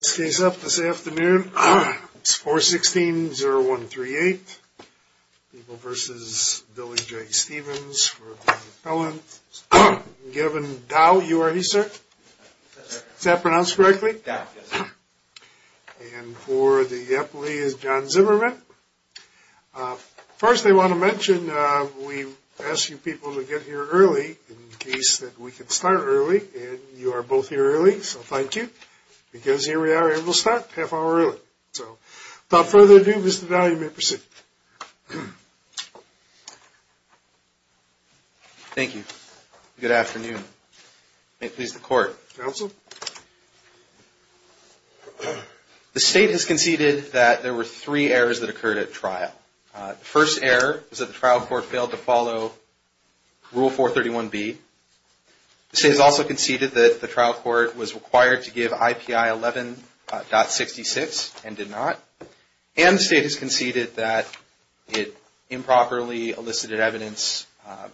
This case up this afternoon, it's 416-0138, People v. Billy J. Stevens for the felon. Gavin Dow, you are he, sir? Is that pronounced correctly? Dow, yes, sir. And for the appellee is John Zimmerman. First, I want to mention, we asked you people to get here early in case that we could start early, and you are both here early, so thank you, because here we are, and we'll start a half hour early. So, without further ado, Mr. Dow, you may proceed. Thank you. Good afternoon. May it please the Court. Counsel. The State has conceded that there were three errors that occurred at trial. The first error is that the trial court failed to follow Rule 431B. The State has also conceded that the trial court was required to give IPI 11.66 and did not. And the State has conceded that it improperly elicited evidence,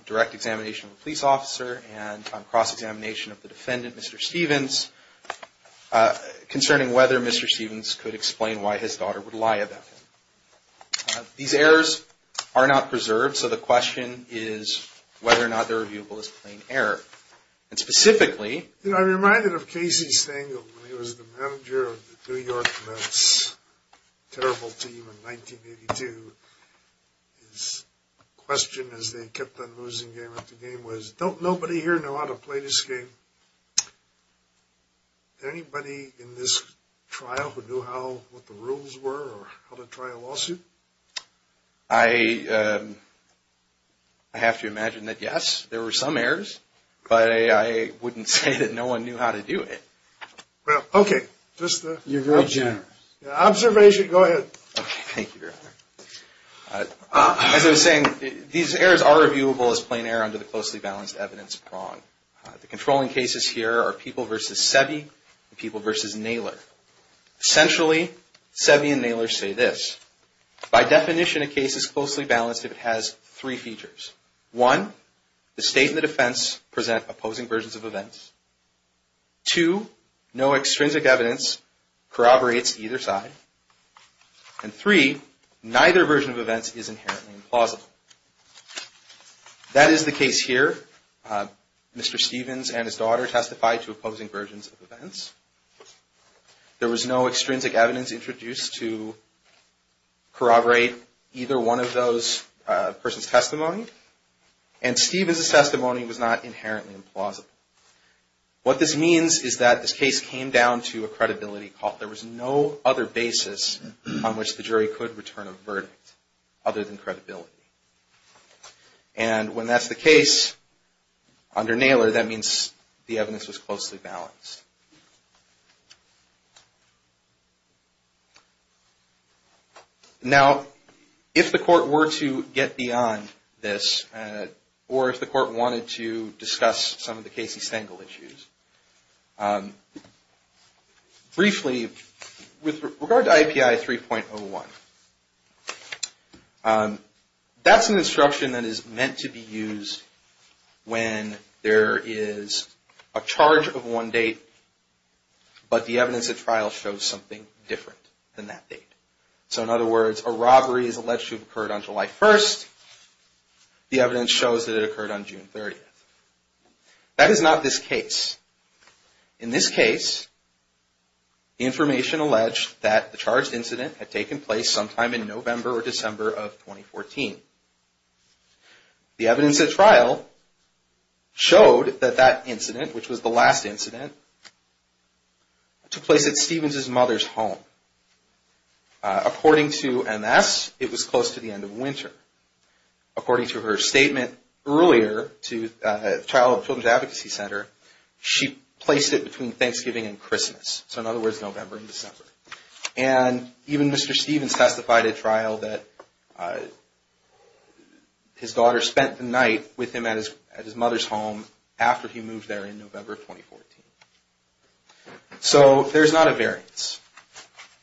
direct examination of a police officer and cross-examination of the defendant, Mr. Stevens, concerning whether Mr. Stevens could explain why his daughter would lie about him. These errors are not preserved, so the question is whether or not they are viewable as a plain error. And specifically... You know, I'm reminded of Casey Stangl, when he was the manager of the New York Mets, terrible team in 1982. His question as they kept on losing game after game was, don't nobody here know how to play this game? Is there anybody in this trial who knew what the rules were or how to try a lawsuit? I have to imagine that yes, there were some errors, but I wouldn't say that no one knew how to do it. Well, okay. You're very generous. Observation, go ahead. Thank you, Your Honor. As I was saying, these errors are reviewable as plain error under the closely balanced evidence of wrong. The controlling cases here are People v. Seve and People v. Naylor. Essentially, Seve and Naylor say this. By definition, a case is closely balanced if it has three features. One, the State and the defense present opposing versions of events. Two, no extrinsic evidence corroborates either side. And three, neither version of events is inherently implausible. That is the case here. Mr. Stevens and his daughter testified to opposing versions of events. There was no extrinsic evidence introduced to corroborate either one of those persons' testimony. And Stevens' testimony was not inherently implausible. What this means is that this case came down to a credibility call. There was no other basis on which the jury could return a verdict other than credibility. And when that's the case, under Naylor, that means the evidence was closely balanced. Now, if the Court were to get beyond this, or if the Court wanted to discuss some of the Casey-Stengel issues, briefly, with regard to IAPI 3.01, that's an instruction that is meant to be used when there is a charge of one date, but the evidence at trial shows something different than that date. So, in other words, a robbery is alleged to have occurred on July 1st. The evidence shows that it occurred on June 30th. That is not this case. In this case, the information alleged that the charged incident had taken place sometime in November or December of 2014. The evidence at trial showed that that incident, which was the last incident, took place at Stevens' mother's home. According to MS, it was close to the end of winter. According to her statement earlier to the Child and Children's Advocacy Center, she placed it between Thanksgiving and Christmas. So, in other words, November and December. And even Mr. Stevens testified at trial that his daughter spent the night with him at his mother's home after he moved there in November of 2014. So, there's not a variance.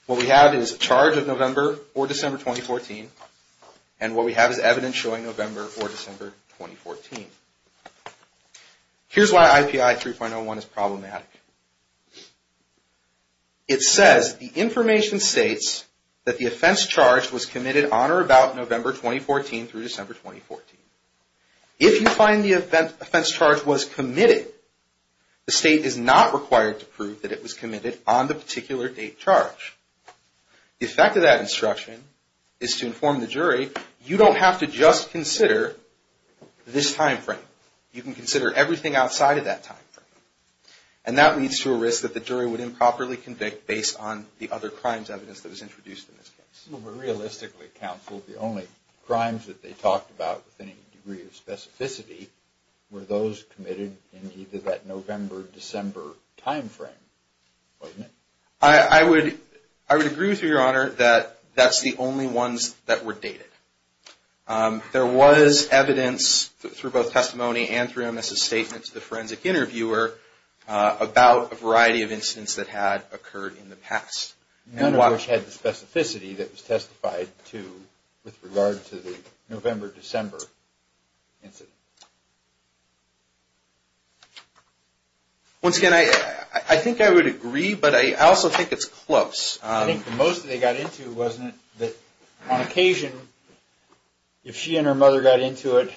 What we have is a charge of November or December 2014. And what we have is evidence showing November or December 2014. Here's why IPI 3.01 is problematic. It says, the information states that the offense charge was committed on or about November 2014 through December 2014. If you find the offense charge was committed, the state is not required to prove that it was committed on the particular date charged. The effect of that instruction is to inform the jury, you don't have to just consider this time frame. You can consider everything outside of that time frame. And that leads to a risk that the jury would improperly convict based on the other crimes evidence that was introduced in this case. But realistically, counsel, the only crimes that they talked about with any degree of specificity were those committed in either that November or December time frame, wasn't it? I would agree with you, Your Honor, that that's the only ones that were dated. There was evidence through both testimony and through MS's statement to the forensic interviewer about a variety of incidents that had occurred in the past. None of which had the specificity that was testified to with regard to the November-December incident. Once again, I think I would agree, but I also think it's close. I think the most that they got into, wasn't it, that on occasion if she and her mother got into it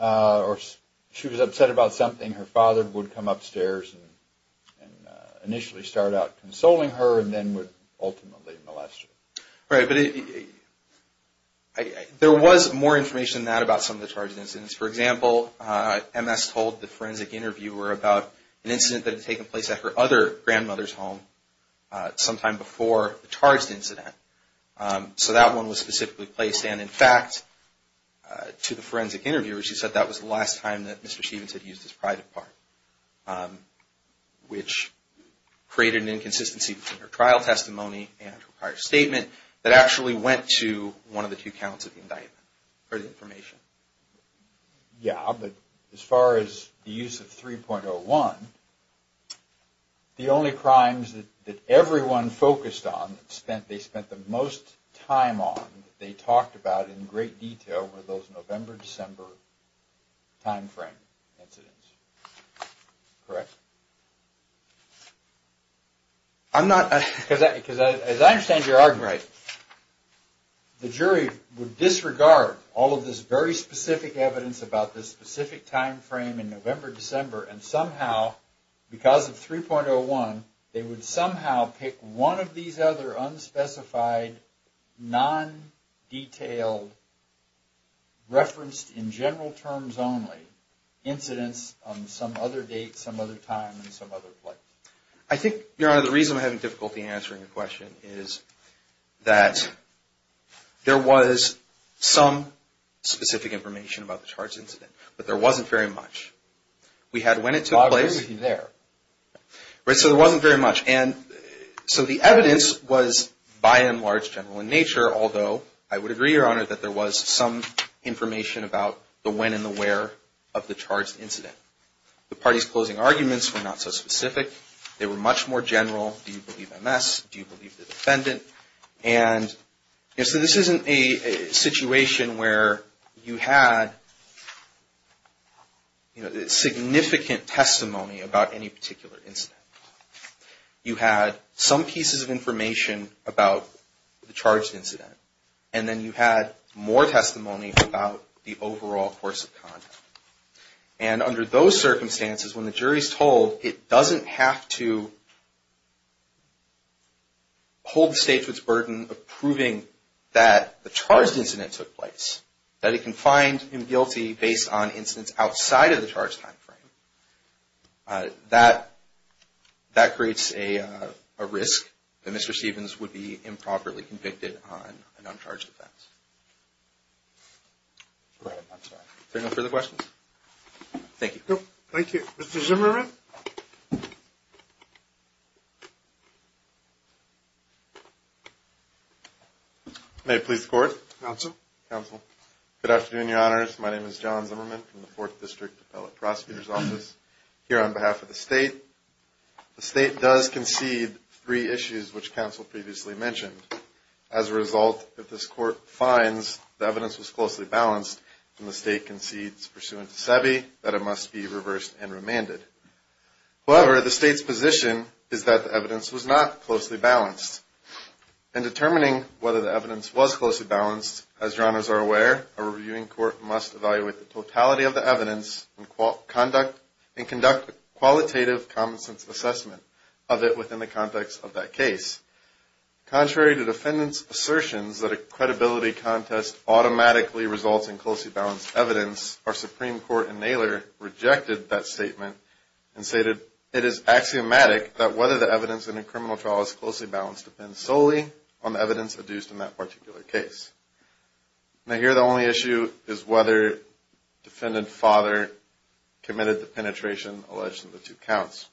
or she was upset about something, her father would come upstairs and initially start out consoling her and then would ultimately molest her. Right, but there was more information than that about some of the charged incidents. For example, MS told the forensic interviewer about an incident that had taken place at her other grandmother's home sometime before the charged incident. So that one was specifically placed and in fact, to the forensic interviewer, she said that was the last time that Mr. Stevens had used his private part. Which created an inconsistency between her trial testimony and her prior statement that actually went to one of the two counts of indictment or the information. Yeah, but as far as the use of 3.01, the only crimes that everyone focused on, that they spent the most time on, that they talked about in great detail were those November-December time frame incidents, correct? I'm not, because as I understand your argument, the jury would disregard all of this very specific evidence about this specific time frame in November-December and somehow, because of 3.01, they would somehow pick one of these other unspecified, non-detailed, referenced in general terms only, incidents on some other date, some other time, and some other place. I think, Your Honor, the reason I'm having difficulty answering your question is that there was some specific information about the charged incident, but there wasn't very much. We had when it took place. I agree with you there. Right, so there wasn't very much, and so the evidence was, by and large, general in nature, although I would agree, Your Honor, that there was some information about the when and the where of the charged incident. The party's closing arguments were not so specific. They were much more general. Do you believe MS? Do you believe the defendant? And so this isn't a situation where you had significant testimony about any particular incident. You had some pieces of information about the charged incident, and then you had more testimony about the overall course of conduct. And under those circumstances, when the jury is told it doesn't have to hold the state to its burden of proving that the charged incident took place, that it can find him guilty based on incidents outside of the charged time frame, that creates a risk that Mr. Stevens would be improperly convicted on an uncharged offense. Right, I'm sorry. Is there no further questions? Thank you. Thank you. Mr. Zimmerman? May it please the Court? Counsel. Counsel. Good afternoon, Your Honors. My name is John Zimmerman from the Fourth District Appellate Prosecutor's Office. Here on behalf of the state, the state does concede three issues which counsel previously mentioned. As a result, if this Court finds the evidence was closely balanced, then the state concedes pursuant to SEBI that it must be reversed and remanded. However, the state's position is that the evidence was not closely balanced. In determining whether the evidence was closely balanced, as Your Honors are aware, a reviewing court must evaluate the totality of the evidence and conduct a qualitative common sense assessment of it within the context of that case. Contrary to defendants' assertions that a credibility contest automatically results in closely balanced evidence, our Supreme Court in Naylor rejected that statement and stated, it is axiomatic that whether the evidence in a criminal trial is closely balanced depends solely on the evidence adduced in that particular case. Now, here the only issue is whether defendant father committed the penetration alleged in the two counts.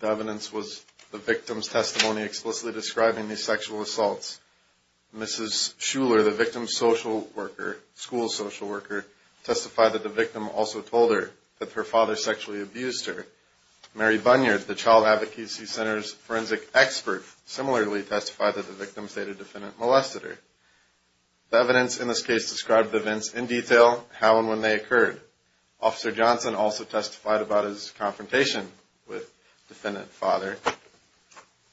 The evidence was the victim's testimony explicitly describing the sexual assaults. Mrs. Schuller, the victim's social worker, school social worker, testified that the victim also told her that her father sexually abused her. Mary Bunyard, the Child Advocacy Center's forensic expert, similarly testified that the victim stated the defendant molested her. The evidence in this case described the events in detail, how and when they occurred. Officer Johnson also testified about his confrontation with defendant father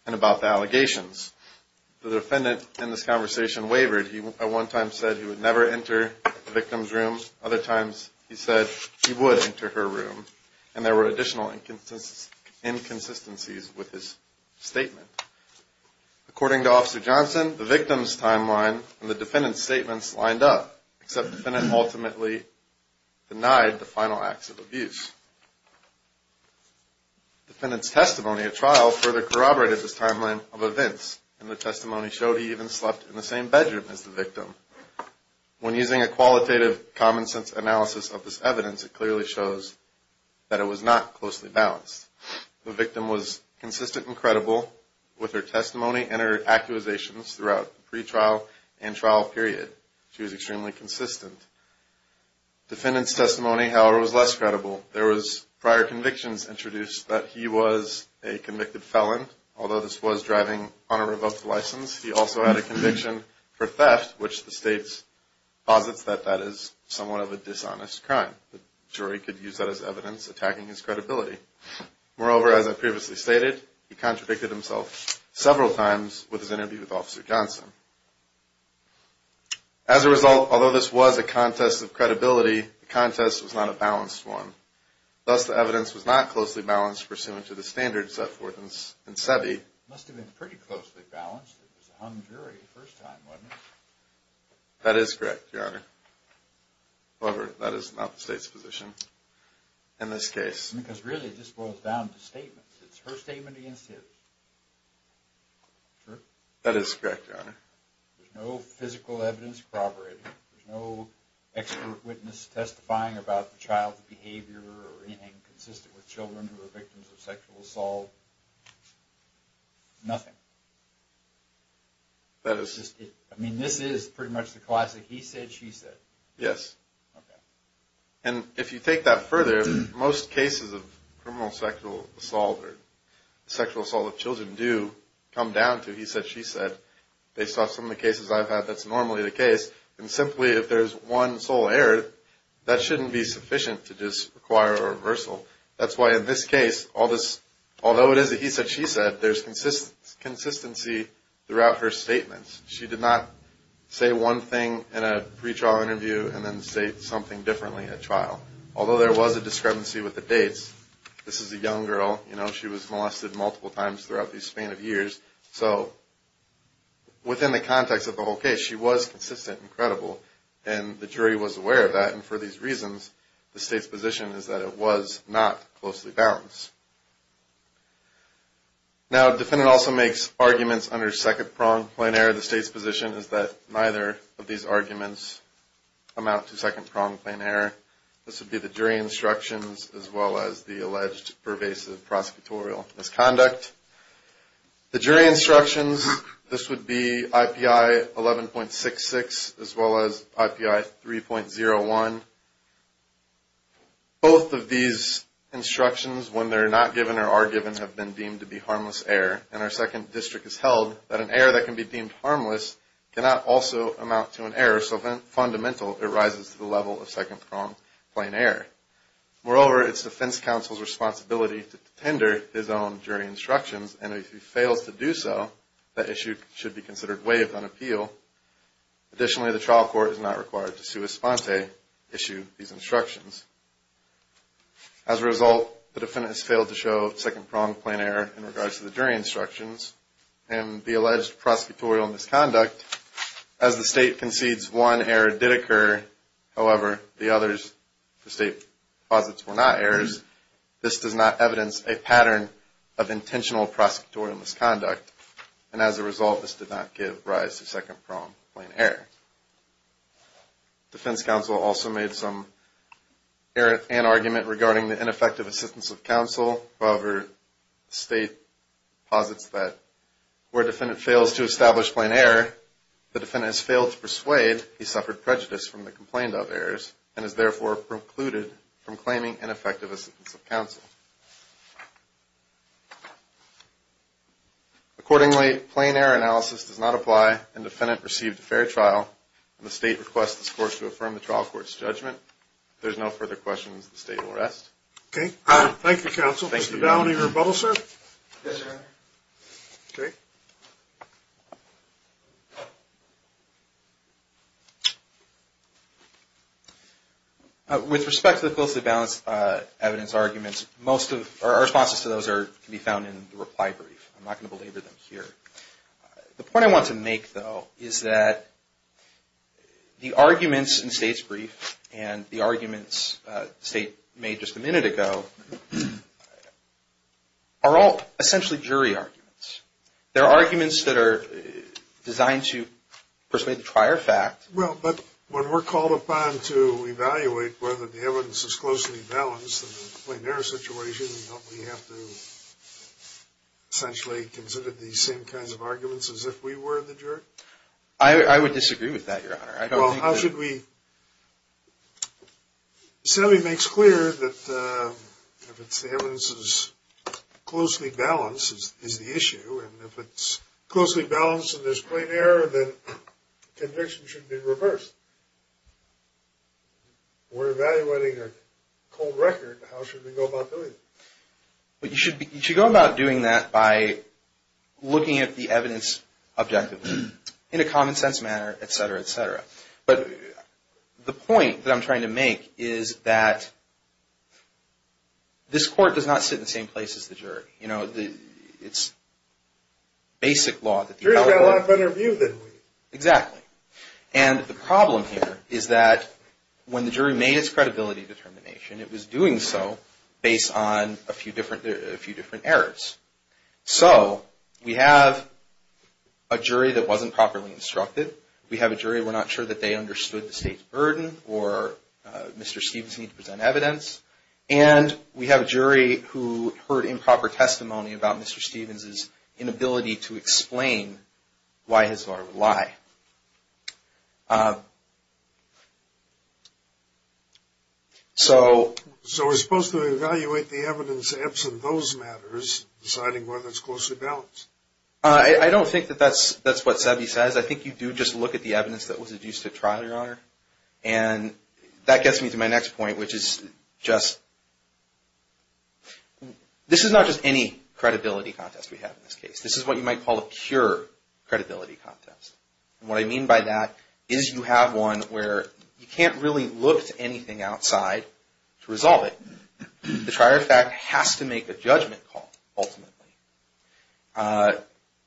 and about the allegations. The defendant in this conversation wavered. He at one time said he would never enter the victim's room. Other times he said he would enter her room. And there were additional inconsistencies with his statement. Except the defendant ultimately denied the final acts of abuse. The defendant's testimony at trial further corroborated this timeline of events, and the testimony showed he even slept in the same bedroom as the victim. When using a qualitative common sense analysis of this evidence, it clearly shows that it was not closely balanced. The victim was consistent and credible with her testimony and her accusations throughout the pretrial and trial period. She was extremely consistent. Defendant's testimony, however, was less credible. There was prior convictions introduced that he was a convicted felon, although this was driving on a revoked license. He also had a conviction for theft, which the state posits that that is somewhat of a dishonest crime. The jury could use that as evidence attacking his credibility. Moreover, as I previously stated, he contradicted himself several times with his interview with Officer Johnson. As a result, although this was a contest of credibility, the contest was not a balanced one. Thus, the evidence was not closely balanced, pursuant to the standards set forth in SEBI. It must have been pretty closely balanced. It was a hung jury the first time, wasn't it? That is correct, Your Honor. However, that is not the state's position in this case. Because really, this boils down to statements. It's her statement against his. True. That is correct, Your Honor. There's no physical evidence corroborated. There's no expert witness testifying about the child's behavior or anything consistent with children who are victims of sexual assault. Nothing. That is just it. I mean, this is pretty much the classic he said, she said. Yes. And if you take that further, most cases of criminal sexual assault or sexual assault children do come down to he said, she said. Based off some of the cases I've had, that's normally the case. And simply, if there's one sole error, that shouldn't be sufficient to just require a reversal. That's why in this case, although it is a he said, she said, there's consistency throughout her statements. She did not say one thing in a pretrial interview and then say something differently at trial. Although there was a discrepancy with the dates. This is a young girl. She was molested multiple times throughout the span of years. So within the context of the whole case, she was consistent and credible. And the jury was aware of that. And for these reasons, the state's position is that it was not closely balanced. Now, defendant also makes arguments under second prong plain error. The state's position is that neither of these arguments amount to second prong plain error. This would be the jury instructions, as well as the alleged pervasive prosecutorial misconduct. The jury instructions, this would be IPI 11.66, as well as IPI 3.01. Both of these instructions, when they're not given or are given, have been deemed to be harmless error. And our second district has held that an error that can be deemed harmless cannot also amount to an error. Fundamental, it rises to the level of second prong plain error. Moreover, it's defense counsel's responsibility to tender his own jury instructions. And if he fails to do so, that issue should be considered way upon appeal. Additionally, the trial court is not required to sui sponte issue these instructions. As a result, the defendant has failed to show second prong plain error in regards to the jury instructions and the alleged prosecutorial misconduct. As the state concedes one error did occur, however, the others, the state posits, were not errors. This does not evidence a pattern of intentional prosecutorial misconduct. And as a result, this did not give rise to second prong plain error. Defense counsel also made some error and argument regarding the ineffective assistance of counsel. However, the state posits that where defendant fails to establish plain error, the defendant has failed to persuade he suffered prejudice from the complaint of errors and is therefore precluded from claiming ineffective assistance of counsel. Accordingly, plain error analysis does not apply and defendant received a fair trial. And the state requests this court to affirm the trial court's judgment. There's no further questions. The state will rest. Okay. Thank you, counsel. Mr. Bowne, are you rebuttal, sir? Yes, sir. Okay. With respect to the closely balanced evidence arguments, most of our responses to those are to be found in the reply brief. I'm not going to belabor them here. The point I want to make, though, is that the arguments in the state's brief and the reply brief a minute ago are all essentially jury arguments. They're arguments that are designed to persuade the prior fact. Well, but when we're called upon to evaluate whether the evidence is closely balanced in the plain error situation, don't we have to essentially consider these same kinds of arguments as if we were the jury? I would disagree with that, Your Honor. I don't think that... The assembly makes clear that if it's the evidence is closely balanced is the issue. And if it's closely balanced and there's plain error, then conviction should be reversed. We're evaluating a cold record. How should we go about doing it? But you should go about doing that by looking at the evidence objectively, in a common sense manner, et cetera, et cetera. But the point that I'm trying to make is that this court does not sit in the same place as the jury. You know, it's basic law that... The jury's got a lot better view than we do. Exactly. And the problem here is that when the jury made its credibility determination, it was doing so based on a few different errors. So we have a jury that wasn't properly instructed. We have a jury, we're not sure that they understood the state's burden or Mr. Stevens need to present evidence. And we have a jury who heard improper testimony about Mr. Stevens's inability to explain why his lawyer would lie. So... So we're supposed to evaluate the evidence absent those matters, deciding whether it's closely balanced. I don't think that that's what Sebi says. I think you do just look at the evidence that was adduced at trial, Your Honor. And that gets me to my next point, which is just... This is not just any credibility contest we have in this case. This is what you might call a pure credibility contest. And what I mean by that is you have one where you can't really look to anything outside to resolve it. The trier of fact has to make a judgment call ultimately.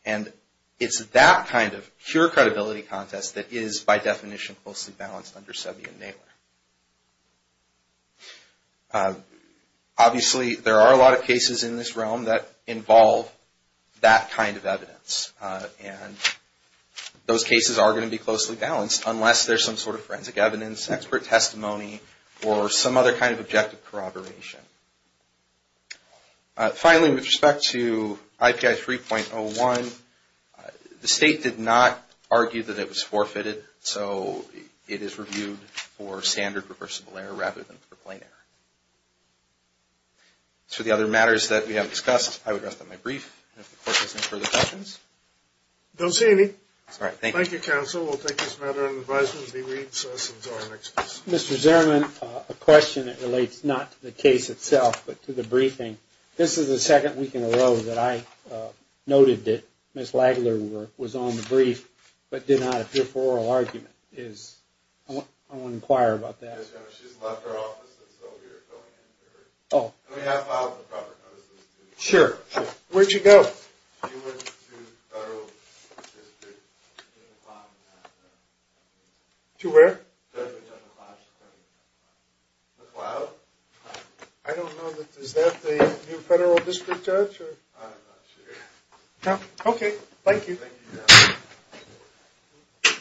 And it's that kind of pure credibility contest that is by definition closely balanced under Sebi and Naylor. Obviously, there are a lot of cases in this realm that involve that kind of evidence. And those cases are going to be closely balanced unless there's some sort of forensic evidence, expert testimony, or some other kind of objective corroboration. Finally, with respect to IPI 3.01, the state did not argue that it was forfeited. So it is reviewed for standard reversible error rather than for plain error. So the other matters that we have discussed, I would rest on my brief. And if the court has any further questions? Don't see any. All right. Thank you. Thank you, counsel. We'll take this matter under advisement as he reads us into our next piece. Mr. Zierman, a question that relates not to the case itself, but to the briefing. This is the second week in a row that I noted that Ms. Lagler was on the brief, but did not appear for oral argument. I want to inquire about that. Ms. Zierman, she's left her office, and so we are going in to her. Oh. Can we have files and proper notices? Sure, sure. Where'd she go? She went to federal district. To where? McLeod. I don't know. Is that the new federal district judge? I'm not sure. Okay. Thank you.